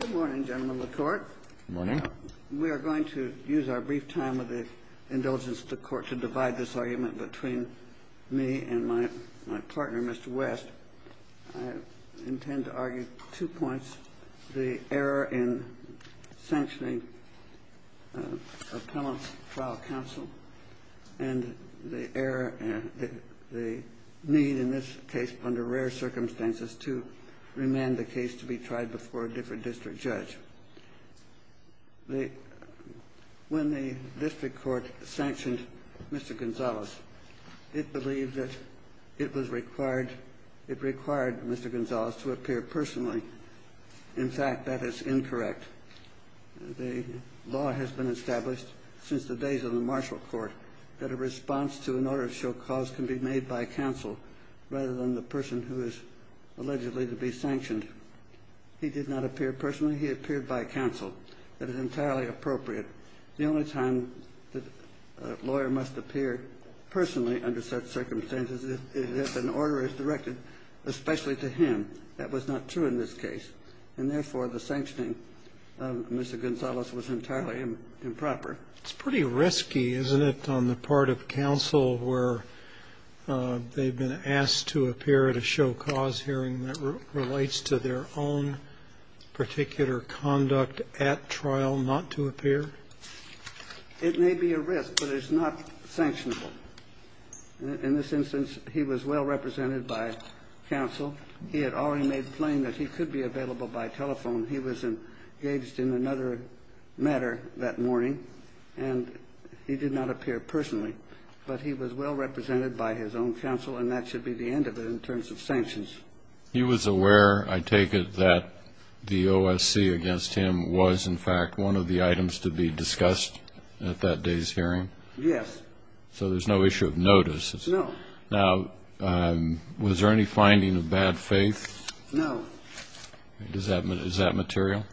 Good morning, gentlemen of the Court. Good morning. We are going to use our brief time of the indulgence of the Court to divide this argument between me and my partner, Mr. West. I intend to argue two points, the error in sanctioning a Penal Trial Counsel and the error and the need in this case, under rare circumstances, to remand the case to be tried before a different district judge. When the district court sanctioned Mr. Gonzales, it believed that it was required, it required Mr. Gonzales to appear personally. In fact, that is incorrect. The law has been established since the days of the Marshall Court that a response to an order of show cause can be made by counsel rather than the person who is allegedly to be sanctioned. He did not appear personally. He appeared by counsel. That is entirely appropriate. The only time that a lawyer must appear personally under such circumstances is if an order is directed especially to him. That was not true in this case. And therefore, the sanctioning of Mr. Gonzales was entirely improper. It's pretty risky, isn't it, on the part of counsel where they've been asked to appear at a show cause hearing that relates to their own particular conduct at trial not to appear? It may be a risk, but it's not sanctionable. In this instance, he was well represented by counsel. He had already made plain that he could be available by telephone. He was engaged in another matter that morning, and he did not appear personally. But he was well represented by his own counsel, and that should be the end of it in terms of sanctions. He was aware, I take it, that the OSC against him was, in fact, one of the items to be discussed at that day's hearing? Yes. So there's no issue of notice? No. Now, was there any finding of bad faith? No. Is that material?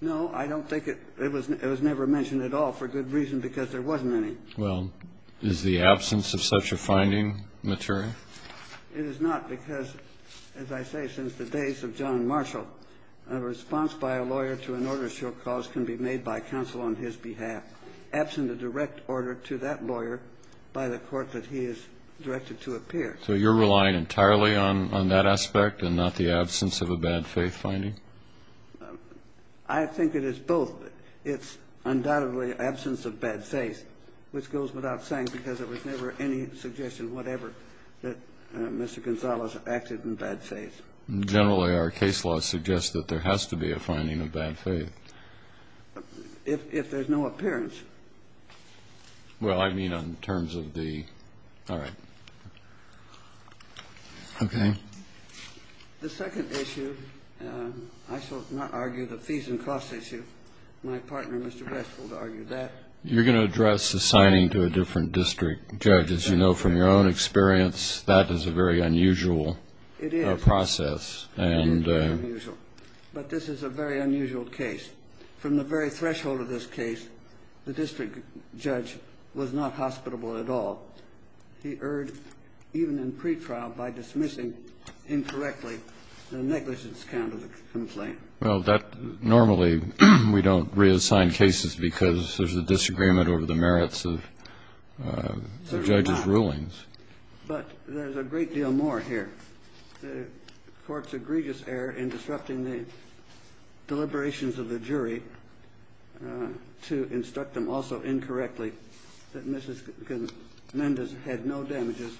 No, I don't think it was. It was never mentioned at all for good reason because there wasn't any. Well, is the absence of such a finding material? It is not because, as I say, since the days of John Marshall, a response by a lawyer to an order show cause can be made by counsel on his behalf, absent a direct order to that lawyer by the court that he is directed to appear. So you're relying entirely on that aspect and not the absence of a bad faith finding? I think it is both. It's undoubtedly absence of bad faith, which goes without saying because there was never any suggestion, whatever, that Mr. Gonzales acted in bad faith. Generally, our case law suggests that there has to be a finding of bad faith. If there's no appearance. Well, I mean in terms of the... All right. Okay. The second issue, I shall not argue the fees and costs issue. My partner, Mr. West, will argue that. You're going to address the signing to a different district judge. As you know from your own experience, that is a very unusual process. It is. It is very unusual. But this is a very unusual case. From the very threshold of this case, the district judge was not hospitable at all. He erred even in pretrial by dismissing incorrectly the negligence count of the complaint. Well, that normally we don't reassign cases because there's a disagreement over the merits of the judge's rulings. But there's a great deal more here. The court's egregious error in disrupting the deliberations of the jury to instruct them also incorrectly that Mrs. Mendes had no damages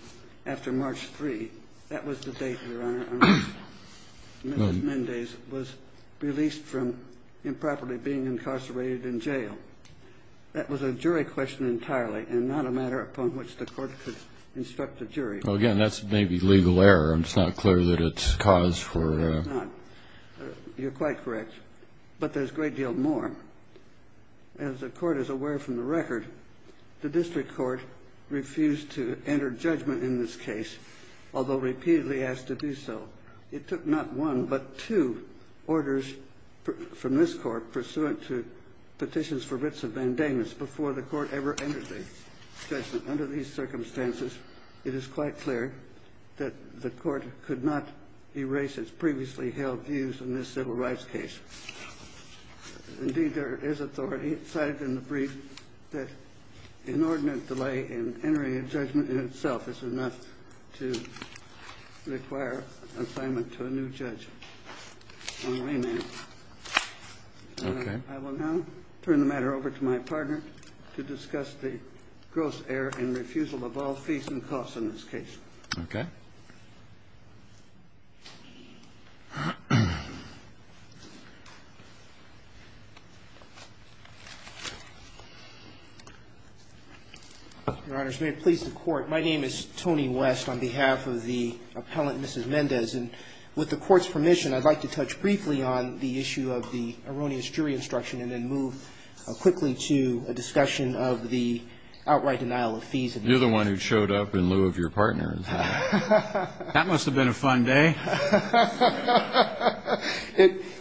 after March 3. That was the date, Your Honor, on which Mrs. Mendes was released from improperly being incarcerated in jail. That was a jury question entirely and not a matter upon which the court could instruct the jury. Well, again, that's maybe legal error. It's not clear that it's cause for — No, it's not. You're quite correct. But there's a great deal more. As the court is aware from the record, the district court refused to enter judgment in this case, although repeatedly asked to do so. It took not one but two orders from this court pursuant to petitions for writs of bandanas before the court ever entered a judgment. Under these circumstances, it is quite clear that the court could not erase its previously held views in this civil rights case. Indeed, there is authority cited in the brief that inordinate delay in entering a judgment in itself is enough to require assignment to a new judge on remand. Okay. I will now turn the matter over to my partner to discuss the gross error in refusal of all fees and costs in this case. Okay. Your Honors, may it please the Court. My name is Tony West on behalf of the appellant, Mrs. Mendes. And with the Court's permission, I'd like to touch briefly on the issue of the erroneous jury instruction and then move quickly to a discussion of the outright denial of fees. You're the one who showed up in lieu of your partner. That must have been a fun day.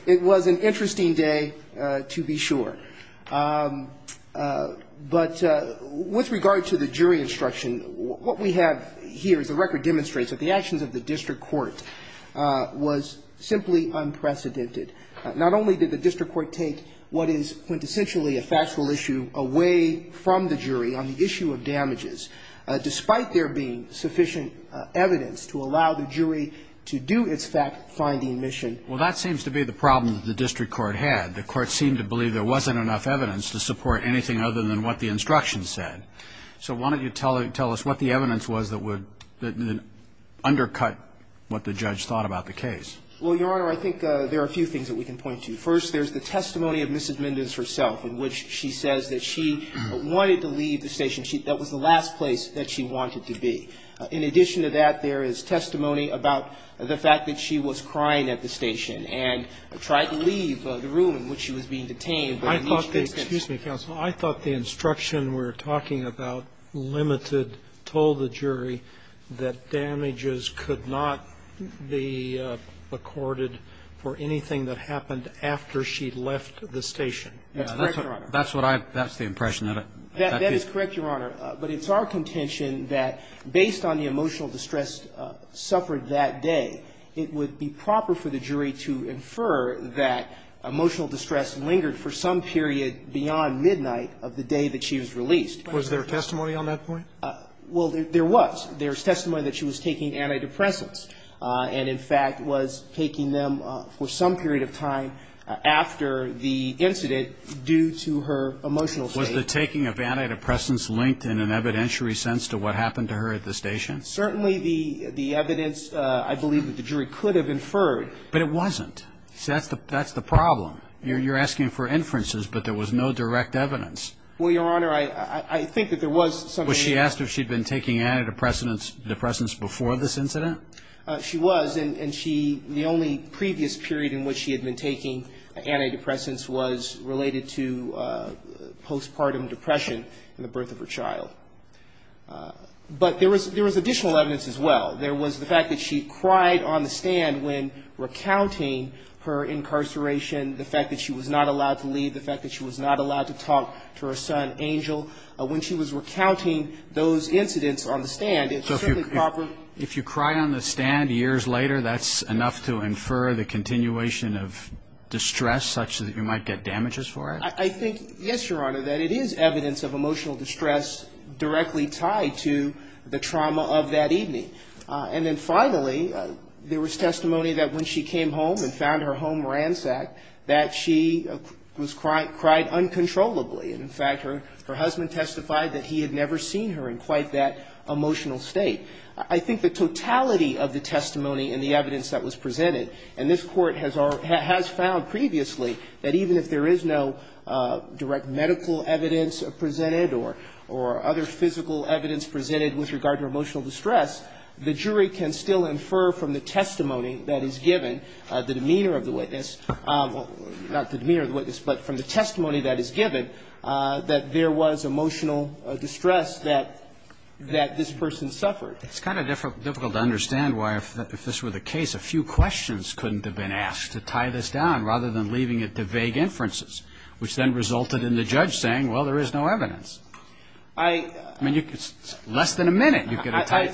It was an interesting day, to be sure. But with regard to the jury instruction, what we have here is the record demonstrates that the actions of the district court was simply unprecedented. Not only did the district court take what is quintessentially a factual issue away from the jury on the issue of damages, despite there being sufficient evidence to allow the jury to do its fact-finding mission. Well, that seems to be the problem that the district court had. The court seemed to believe there wasn't enough evidence to support anything other than what the instruction said. So why don't you tell us what the evidence was that would undercut what the judge thought about the case? Well, Your Honor, I think there are a few things that we can point to. First, there's the testimony of Mrs. Mendes herself in which she says that she wanted to leave the station. That was the last place that she wanted to be. In addition to that, there is testimony about the fact that she was crying at the station and tried to leave the room in which she was being detained. Excuse me, counsel. I thought the instruction we're talking about limited, told the jury that damages could not be accorded for anything that happened after she left the station. That's correct, Your Honor. That's what I've got the impression. That is correct, Your Honor. But it's our contention that based on the emotional distress suffered that day, it would be proper for the jury to infer that emotional distress lingered for some period beyond midnight of the day that she was released. Was there testimony on that point? Well, there was. There's testimony that she was taking antidepressants and, in fact, was taking them for some period of time after the incident due to her emotional state. Was the taking of antidepressants linked in an evidentiary sense to what happened to her at the station? Certainly the evidence I believe that the jury could have inferred. But it wasn't. See, that's the problem. You're asking for inferences, but there was no direct evidence. Well, Your Honor, I think that there was some evidence. Well, she asked if she'd been taking antidepressants before this incident? She was, and she the only previous period in which she had been taking antidepressants was related to postpartum depression and the birth of her child. But there was additional evidence as well. There was the fact that she cried on the stand when recounting her incarceration, the fact that she was not allowed to leave, the fact that she was not allowed to talk to her son, Angel. When she was recounting those incidents on the stand, it was certainly proper. So if you cried on the stand years later, that's enough to infer the continuation of distress such that you might get damages for it? I think, yes, Your Honor, that it is evidence of emotional distress directly tied to the trauma of that evening. And then finally, there was testimony that when she came home and found her home ransacked, that she cried uncontrollably. In fact, her husband testified that he had never seen her in quite that emotional state. I think the totality of the testimony and the evidence that was presented, and this Court has found previously that even if there is no direct medical evidence presented or other physical evidence presented with regard to emotional distress, the jury can still infer from the testimony that is given, the demeanor of the witness or not the demeanor of the witness, but from the testimony that is given, that there was emotional distress that this person suffered. It's kind of difficult to understand why, if this were the case, a few questions couldn't have been asked to tie this down rather than leaving it to vague inferences, which then resulted in the judge saying, well, there is no evidence. I mean, less than a minute,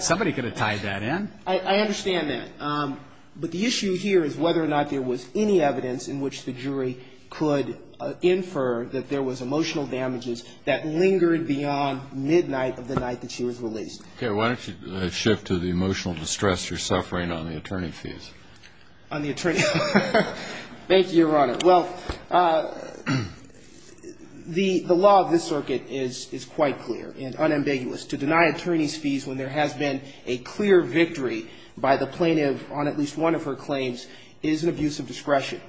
somebody could have tied that in. I understand that. But the issue here is whether or not there was any evidence in which the jury could infer that there was emotional damages that lingered beyond midnight of the night that she was released. Okay. Why don't you shift to the emotional distress you're suffering on the attorney fees. On the attorney fees. Thank you, Your Honor. Well, the law of this circuit is quite clear and unambiguous. To deny attorneys fees when there has been a clear victory by the plaintiff on at least one of her claims is an abuse of discretion.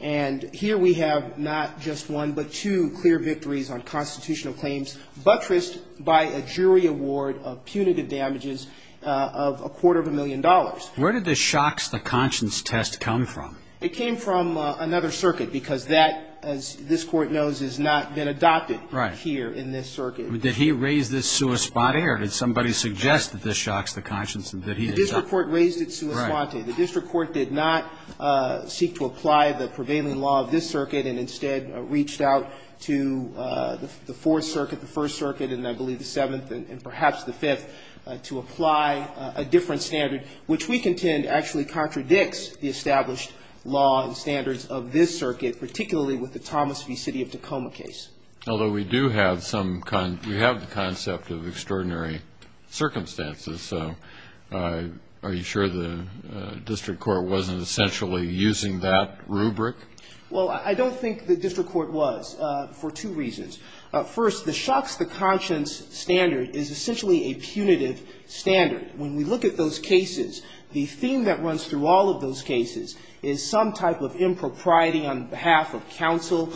And here we have not just one, but two clear victories on constitutional claims buttressed by a jury award of punitive damages of a quarter of a million dollars. Where did this shocks the conscience test come from? It came from another circuit, because that, as this Court knows, has not been adopted here in this circuit. Right. Did he raise this sua sponte, or did somebody suggest that this shocks the conscience and that he did not? The district court raised it sua sponte. The district court did not seek to apply the prevailing law of this circuit and instead reached out to the Fourth Circuit, the First Circuit, and I believe the Seventh and perhaps the Fifth, to apply a different standard, which we contend actually contradicts the established law and standards of this circuit, particularly with the Thomas v. City of Tacoma case. Although we do have some, we have the concept of extraordinary circumstances, so are you sure the district court wasn't essentially using that rubric? Well, I don't think the district court was, for two reasons. First, the shocks the conscience standard is essentially a punitive standard. When we look at those cases, the theme that runs through all of those cases is some type of impropriety on behalf of counsel,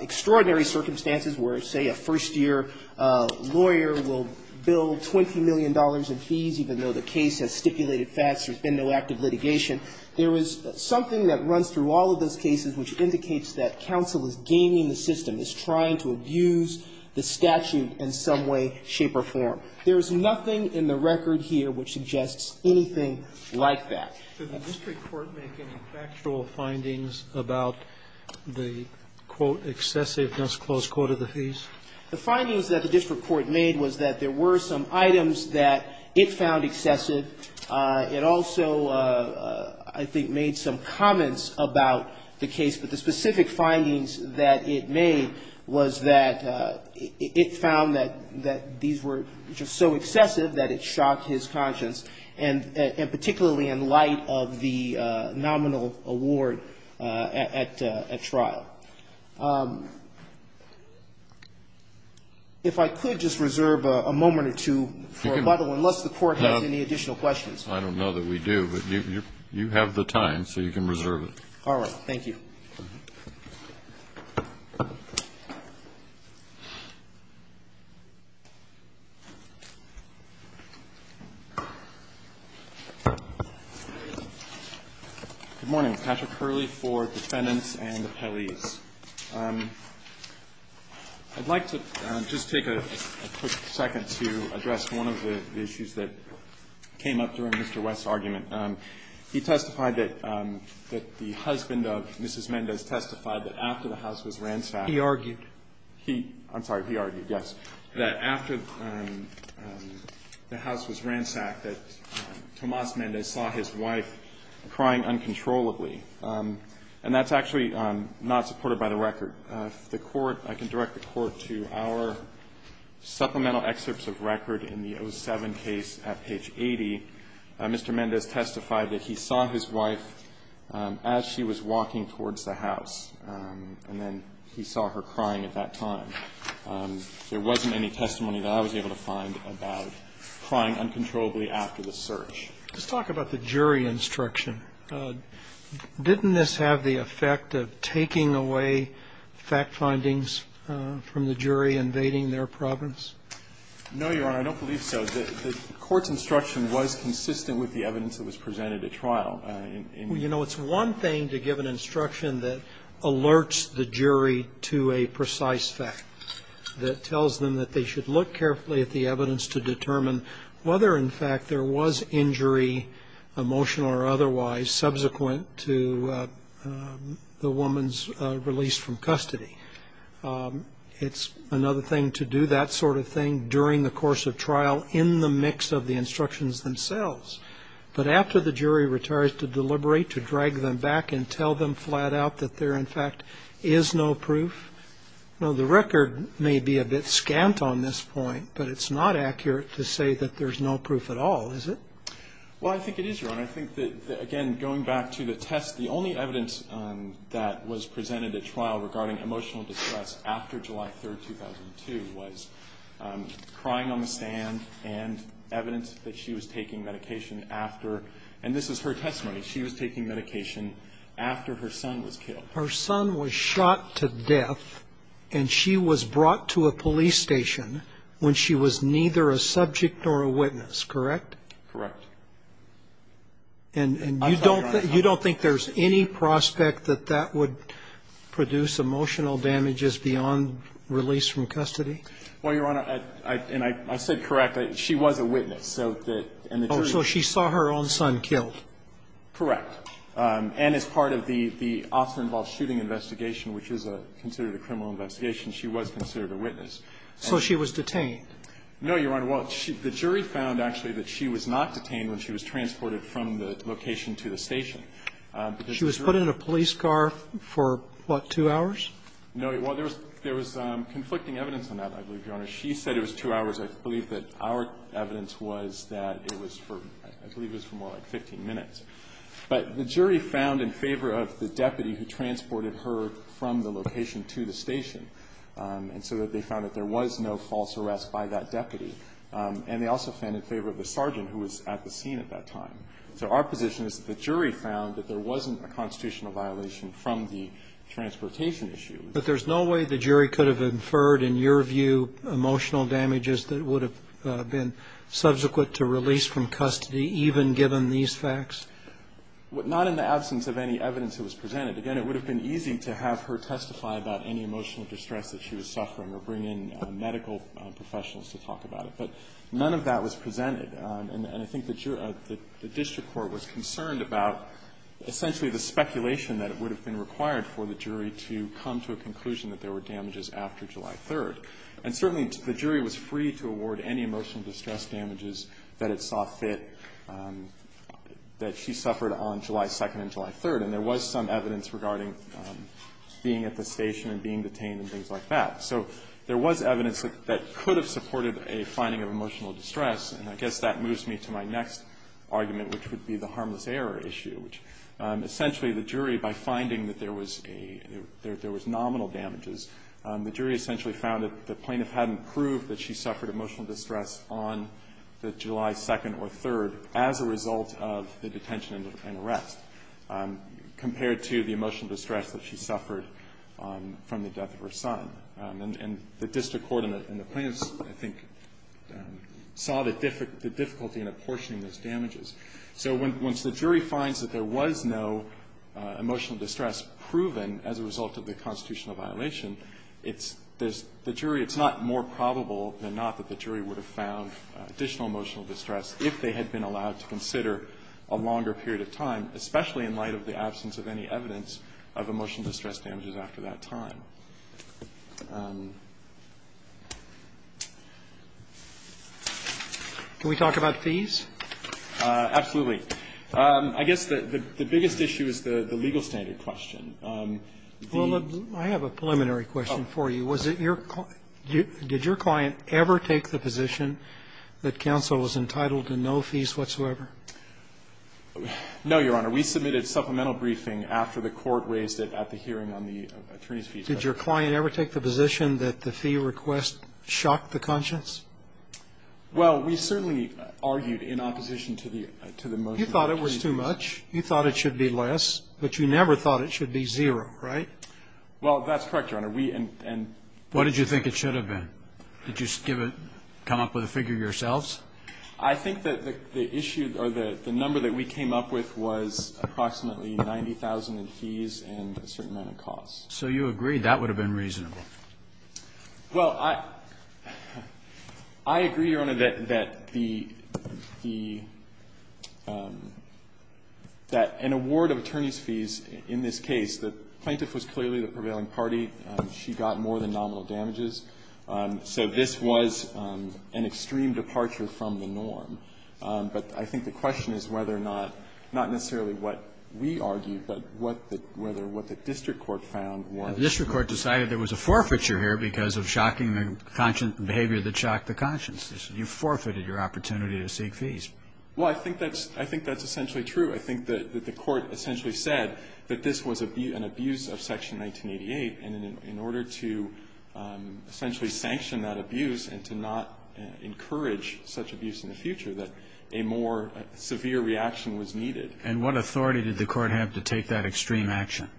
extraordinary circumstances where, say, a first-year lawyer will bill $20 million in fees even though the case has stipulated facts, there's been no active litigation. There is something that runs through all of those cases which indicates that counsel is gaming the system, is trying to abuse the statute in some way, shape or form. There is nothing in the record here which suggests anything like that. Did the district court make any factual findings about the, quote, excessive just close court of the fees? The findings that the district court made was that there were some items that it found to be excessive. It also, I think, made some comments about the case, but the specific findings that it made was that it found that these were just so excessive that it shocked his conscience, and particularly in light of the nominal award at trial. If I could just reserve a moment or two for rebuttal, unless the Court has anything additional questions. I don't know that we do, but you have the time, so you can reserve it. All right. Thank you. Good morning. Patrick Hurley for Defendants and Appellees. I'd like to just take a quick second to address one of the issues that came up during Mr. West's argument. He testified that the husband of Mrs. Mendez testified that after the house was ransacked He argued. I'm sorry. He argued, yes, that after the house was ransacked that Tomas Mendez saw his wife crying uncontrollably. And that's actually not supported by the record. The Court, I can direct the Court to our supplemental excerpts of record in the 07 case at page 80. Mr. Mendez testified that he saw his wife as she was walking towards the house, and then he saw her crying at that time. There wasn't any testimony that I was able to find about crying uncontrollably after the search. Let's talk about the jury instruction. Didn't this have the effect of taking away fact findings from the jury invading their province? No, Your Honor, I don't believe so. The Court's instruction was consistent with the evidence that was presented at trial. You know, it's one thing to give an instruction that alerts the jury to a precise fact, that tells them that they should look carefully at the evidence to determine whether, in fact, there was injury, emotional or otherwise, subsequent to the woman's release from custody. It's another thing to do that sort of thing during the course of trial in the mix of the instructions themselves. But after the jury retires to deliberate, to drag them back and tell them flat out that there, in fact, is no proof? Now, the record may be a bit scant on this point, but it's not accurate to say that there's no proof at all, is it? Well, I think it is, Your Honor. I think that, again, going back to the test, the only evidence that was presented at trial regarding emotional distress after July 3, 2002, was crying on the stand and evidence that she was taking medication after. And this is her testimony. She was taking medication after her son was killed. Her son was shot to death, and she was brought to a police station when she was neither a subject nor a witness, correct? Correct. And you don't think there's any prospect that that would produce emotional damages beyond release from custody? Well, Your Honor, and I said correct. She was a witness. So that the jury... Oh, so she saw her own son killed. Correct. And as part of the officer-involved shooting investigation, which is considered a criminal investigation, she was considered a witness. So she was detained. No, Your Honor. Well, the jury found, actually, that she was not detained when she was transported from the location to the station. She was put in a police car for, what, two hours? No. Well, there was conflicting evidence on that, I believe, Your Honor. She said it was two hours. I believe that our evidence was that it was for, I believe it was for more like 15 minutes. But the jury found in favor of the deputy who transported her from the location to the station. And so they found that there was no false arrest by that deputy. And they also found in favor of the sergeant who was at the scene at that time. So our position is that the jury found that there wasn't a constitutional violation from the transportation issue. But there's no way the jury could have inferred, in your view, emotional damages that would have been subsequent to release from custody, even given these facts? Not in the absence of any evidence that was presented. Again, it would have been easy to have her testify about any emotional distress that she was suffering or bring in medical professionals to talk about it. But none of that was presented. And I think the district court was concerned about essentially the speculation that it would have been required for the jury to come to a conclusion that there were damages after July 3rd. And certainly the jury was free to award any emotional distress damages that it saw fit that she suffered on July 2nd and July 3rd. And there was some evidence regarding being at the station and being detained and things like that. So there was evidence that could have supported a finding of emotional distress. And I guess that moves me to my next argument, which would be the harmless error issue, which essentially the jury, by finding that there was a – there was nominal damages, the jury essentially found that the plaintiff hadn't proved that she suffered emotional distress on the July 2nd or 3rd as a result of the detention and arrest, compared to the emotional distress that she suffered from the death of her son. And the district court and the plaintiffs, I think, saw the difficulty in apportioning those damages. So once the jury finds that there was no emotional distress proven as a result of the constitutional violation, it's – there's – the jury – it's not more probable than not that the jury would have found additional emotional distress if they had been allowed to consider a longer period of time, especially in light of the absence of any evidence of emotional distress damages after that time. Can we talk about fees? Absolutely. I guess the biggest issue is the legal standard question. The – Well, I have a preliminary question for you. Was it your – did your client ever take the position that counsel was entitled to no fees whatsoever? No, Your Honor. We submitted supplemental briefing after the court raised it at the hearing on the attorney's fees. Did your client ever take the position that the fee request shocked the conscience? Well, we certainly argued in opposition to the – to the motion. You thought it was too much. You thought it should be less. But you never thought it should be zero, right? Well, that's correct, Your Honor. We – and – What did you think it should have been? Did you give it – come up with a figure yourselves? I think that the issue – or the number that we came up with was approximately 90,000 in fees and a certain amount of costs. So you agreed that would have been reasonable. Well, I – I agree, Your Honor, that the – that an award of attorney's fees in this case, the plaintiff was clearly the prevailing party. She got more than nominal damages. So this was an extreme departure from the norm. But I think the question is whether or not – not necessarily what we argued, but whether what the district court found was reasonable. The district court decided there was a forfeiture here because of shocking behavior that shocked the conscience. You forfeited your opportunity to seek fees. Well, I think that's – I think that's essentially true. I think that the court essentially said that this was an abuse of Section 1988. And in order to essentially sanction that abuse and to not encourage such abuse in the future, that a more severe reaction was needed. And what authority did the court have to take that extreme action?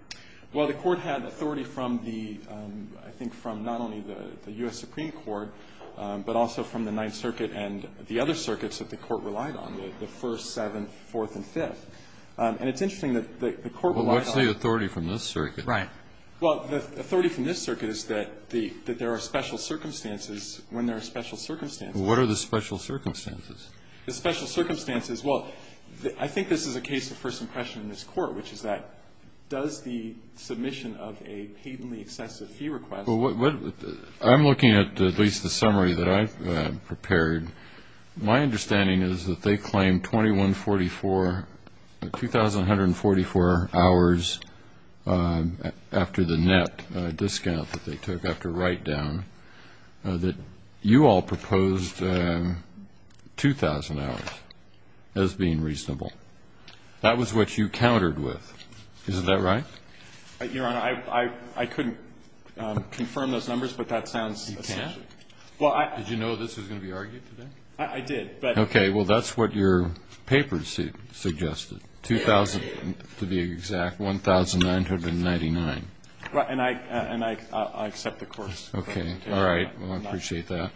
Well, the court had authority from the – I think from not only the U.S. Supreme Court, but also from the Ninth Circuit and the other circuits that the court relied on, the First, Seventh, Fourth, and Fifth. And it's interesting that the court relied on – Well, what's the authority from this circuit? Right. Well, the authority from this circuit is that the – that there are special circumstances when there are special circumstances. What are the special circumstances? The special circumstances – well, I think this is a case of first impression in this court, which is that does the submission of a patently excessive fee request – Well, what – I'm looking at at least the summary that I've prepared. My understanding is that they claim 2144 – 2,144 hours after the net discount that they took after write-down that you all proposed 2,000 hours as being reasonable. That was what you countered with. Isn't that right? Your Honor, I couldn't confirm those numbers, but that sounds – You can't? Well, I – Did you know this was going to be argued today? I did, but – Okay. Well, that's what your paper suggested, 2,000 – to be exact, 1,999. And I accept the course. Okay. All right. Well, I appreciate that.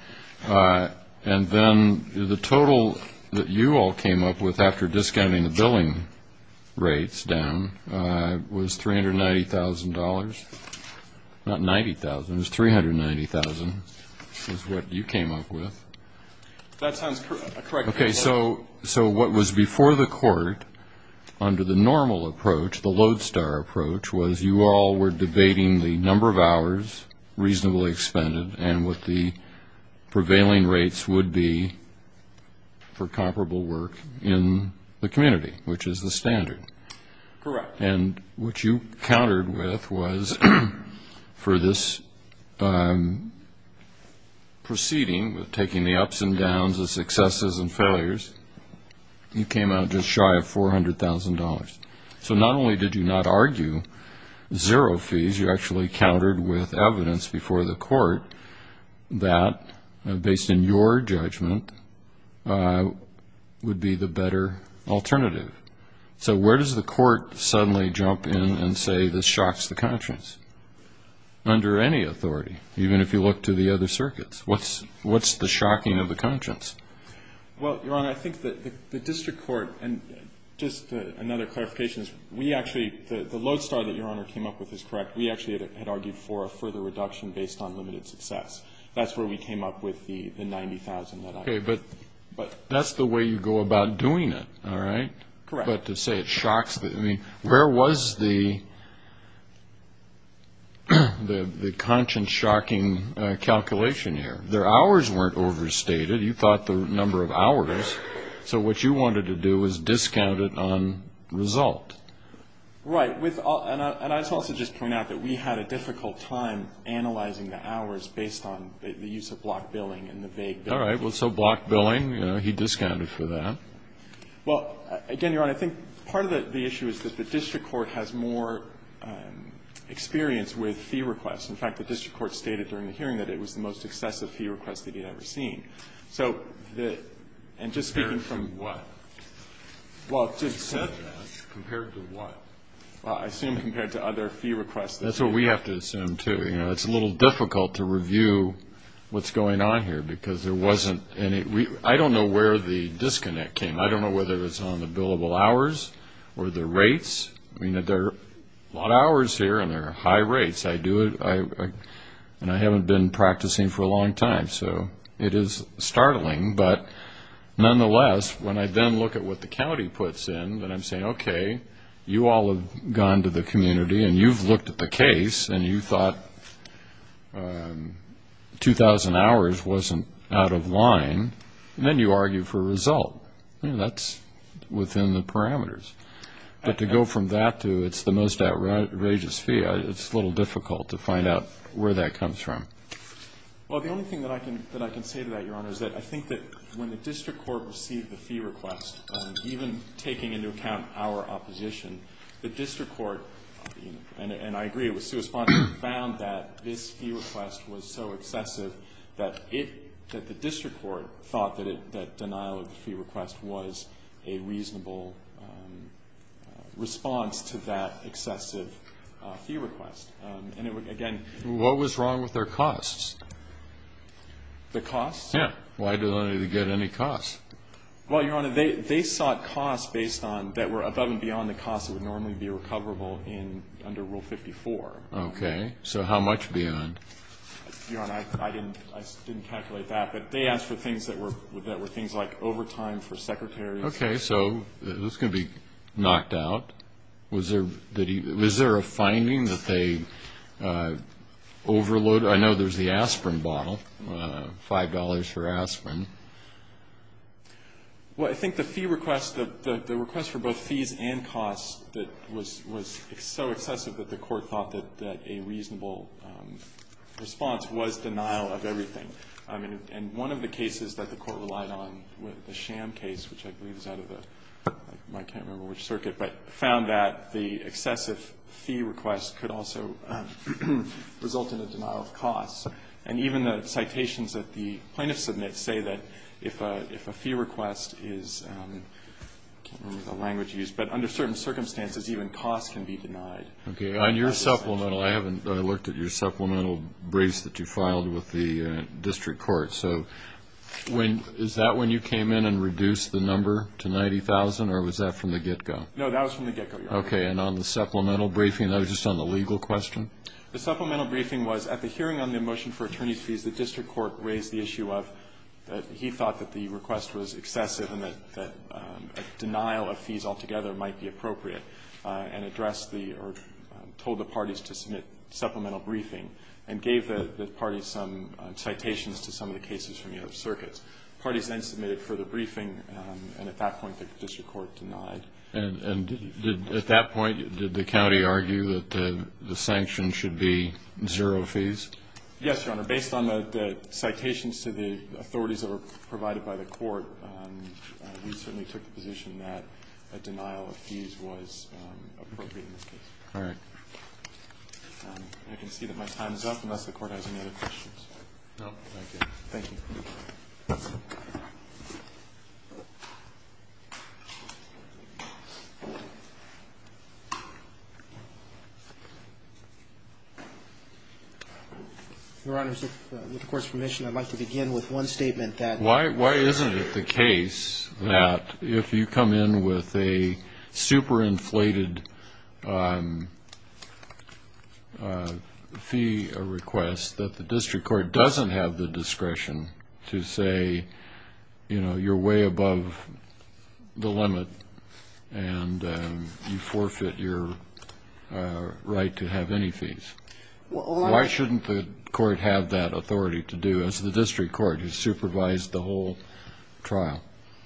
And then the total that you all came up with after discounting the billing rates down was $390,000. Not 90,000. It was 390,000 is what you came up with. That sounds correct. Okay. So what was before the court under the normal approach, the lodestar approach, was you all were debating the number of hours reasonably expended and what the prevailing rates would be for comparable work in the community, which is the standard. Correct. And what you countered with was for this proceeding, taking the ups and downs of successes and failures, you came out just shy of $400,000. So not only did you not argue zero fees, you actually countered with evidence before the court that, based on your judgment, would be the better alternative. So where does the court suddenly jump in and say this shocks the conscience? Under any authority, even if you look to the other circuits. What's the shocking of the conscience? Well, Your Honor, I think that the district court, and just another clarification, we actually, the lodestar that Your Honor came up with is correct. We actually had argued for a further reduction based on limited success. That's where we came up with the 90,000 that I argued. Okay. But that's the way you go about doing it, all right? Correct. But to say it shocks, I mean, where was the conscience-shocking calculation here? Their hours weren't overstated. You thought the number of hours. So what you wanted to do was discount it on result. Right. And I also just point out that we had a difficult time analyzing the hours based on the use of block billing and the vague bill. All right. Well, so block billing, you know, he discounted for that. Well, again, Your Honor, I think part of the issue is that the district court has more experience with fee requests. In fact, the district court stated during the hearing that it was the most excessive fee request that he had ever seen. And just speaking from what? Compared to what? I assume compared to other fee requests. That's what we have to assume, too. You know, it's a little difficult to review what's going on here because there wasn't any. I don't know where the disconnect came. I don't know whether it was on the billable hours or the rates. I mean, there are a lot of hours here and there are high rates. I do it, and I haven't been practicing for a long time, so it is startling. But nonetheless, when I then look at what the county puts in, then I'm saying, okay, you all have gone to the community and you've looked at the case and you thought 2,000 hours wasn't out of line, and then you argue for result. That's within the parameters. But to go from that to it's the most outrageous fee, it's a little difficult to find out where that comes from. Well, the only thing that I can say to that, Your Honor, is that I think that when the district court received the fee request, even taking into account our opposition, the district court, and I agree it was suesponsible, found that this fee request was so excessive that the district court thought that denial of the fee request was a reasonable response to that excessive fee request. And, again ---- What was wrong with their costs? The costs? Yeah. Why did they get any costs? Well, Your Honor, they sought costs based on, that were above and beyond the costs that would normally be recoverable under Rule 54. Okay. So how much beyond? Your Honor, I didn't calculate that. But they asked for things that were things like overtime for secretaries. Okay. So this is going to be knocked out. Was there a finding that they overloaded? I know there's the aspirin bottle, $5 for aspirin. Well, I think the fee request, the request for both fees and costs that was so excessive that the court thought that a reasonable response was denial of everything. I mean, and one of the cases that the court relied on, the Sham case, which I believe is out of the ---- I can't remember which circuit, but found that the excessive fee request could also result in a denial of costs. And even the citations that the plaintiffs submit say that if a fee request is, I can't remember the language used, but under certain circumstances even costs can be denied. Okay. On your supplemental, I haven't ---- I looked at your supplemental briefs that you filed with the district court. So when ---- is that when you came in and reduced the number to 90,000, or was that from the get-go? No, that was from the get-go, Your Honor. Okay. And on the supplemental briefing, that was just on the legal question? The supplemental briefing was at the hearing on the motion for attorney's fees, the district court raised the issue of that he thought that the request was excessive and that denial of fees altogether might be appropriate, and addressed the or told the parties to submit supplemental briefing and gave the parties some citations to some of the cases from the other circuits. Parties then submitted further briefing, and at that point the district court denied. And at that point, did the county argue that the sanctions should be zero fees? Yes, Your Honor. Based on the citations to the authorities that were provided by the court, we certainly took the position that a denial of fees was appropriate in this case. All right. I can see that my time is up unless the Court has any other questions. No. Thank you. Thank you. Your Honors, with the Court's permission, I'd like to begin with one statement that Why isn't it the case that if you come in with a super-inflated fee request that the you know, you're way above the limit and you forfeit your right to have any fees? Why shouldn't the court have that authority to do as the district court has supervised the whole trial?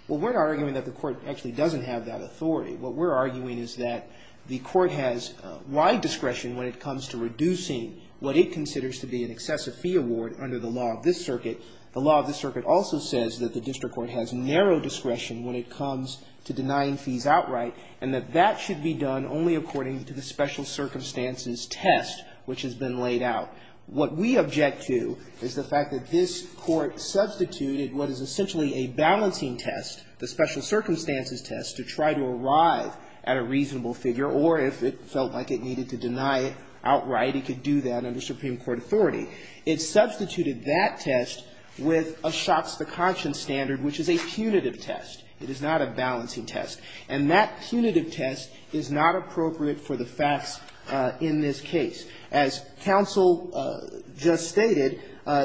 Well, we're not arguing that the court actually doesn't have that authority. What we're arguing is that the court has wide discretion when it comes to reducing what it considers to be an excessive fee award under the law of this circuit. The law of this circuit also says that the district court has narrow discretion when it comes to denying fees outright and that that should be done only according to the special circumstances test which has been laid out. What we object to is the fact that this court substituted what is essentially a balancing test, the special circumstances test, to try to arrive at a reasonable figure or if it felt like it needed to deny it outright, it could do that under Supreme Court authority. It substituted that test with a shots to conscience standard which is a punitive test. It is not a balancing test. And that punitive test is not appropriate for the facts in this case. As counsel just stated,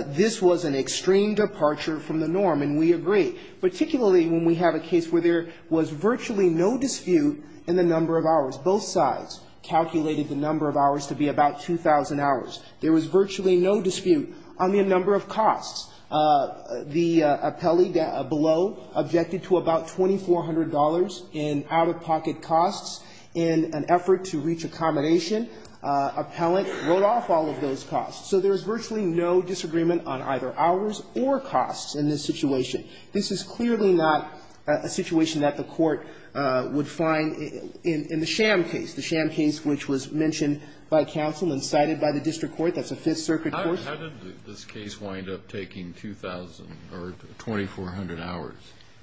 this was an extreme departure from the norm, and we agree, particularly when we have a case where there was virtually no dispute in the number of hours. Both sides calculated the number of hours to be about 2,000 hours. There was virtually no dispute on the number of costs. The appellee below objected to about $2,400 in out-of-pocket costs in an effort to reach accommodation. Appellant wrote off all of those costs. So there is virtually no disagreement on either hours or costs in this situation. This is clearly not a situation that the Court would find in the Sham case, the Sham case, which was mentioned by counsel and cited by the district court. That's a Fifth Circuit court. How did this case wind up taking 2,000 or 2,400 hours?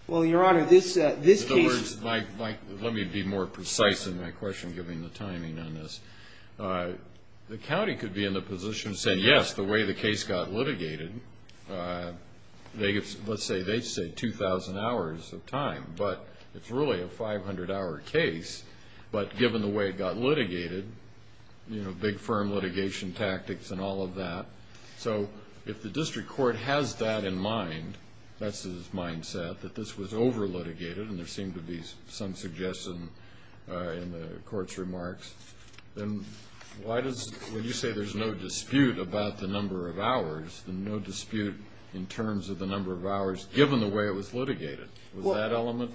Well, Your Honor, this case ---- In other words, let me be more precise in my question, given the timing on this. The county could be in the position to say, yes, the way the case got litigated, let's say they say 2,000 hours of time, but it's really a 500-hour case. But given the way it got litigated, you know, big firm litigation tactics and all of that. So if the district court has that in mind, that's his mindset, that this was over-litigated and there seemed to be some suggestion in the Court's remarks, then why does ---- when you say there's no dispute about the number of hours, then no dispute in terms of the number of hours given the way it was litigated. Was that element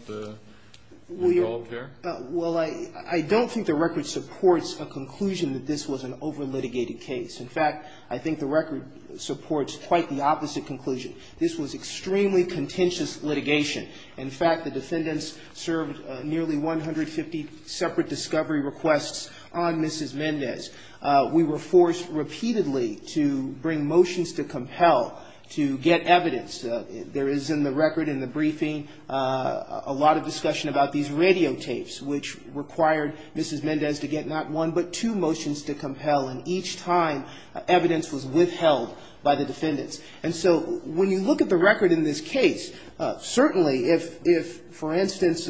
involved here? Well, I don't think the record supports a conclusion that this was an over-litigated case. In fact, I think the record supports quite the opposite conclusion. This was extremely contentious litigation. In fact, the defendants served nearly 150 separate discovery requests on Mrs. Mendez. We were forced repeatedly to bring motions to compel to get evidence. There is in the record in the briefing a lot of discussion about these radio tapes, which required Mrs. Mendez to get not one but two motions to compel, and each time evidence was withheld by the defendants. And so when you look at the record in this case, certainly if, for instance,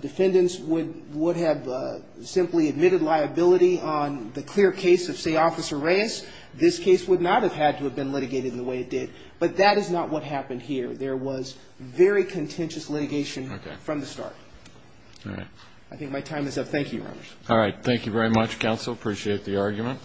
defendants would have simply admitted liability on the clear case of, say, Officer Reyes, this case would not have had to have been litigated the way it did. But that is not what happened here. There was very contentious litigation from the start. All right. I think my time is up. Thank you, Your Honor. All right. Thank you very much, counsel. Appreciate the argument.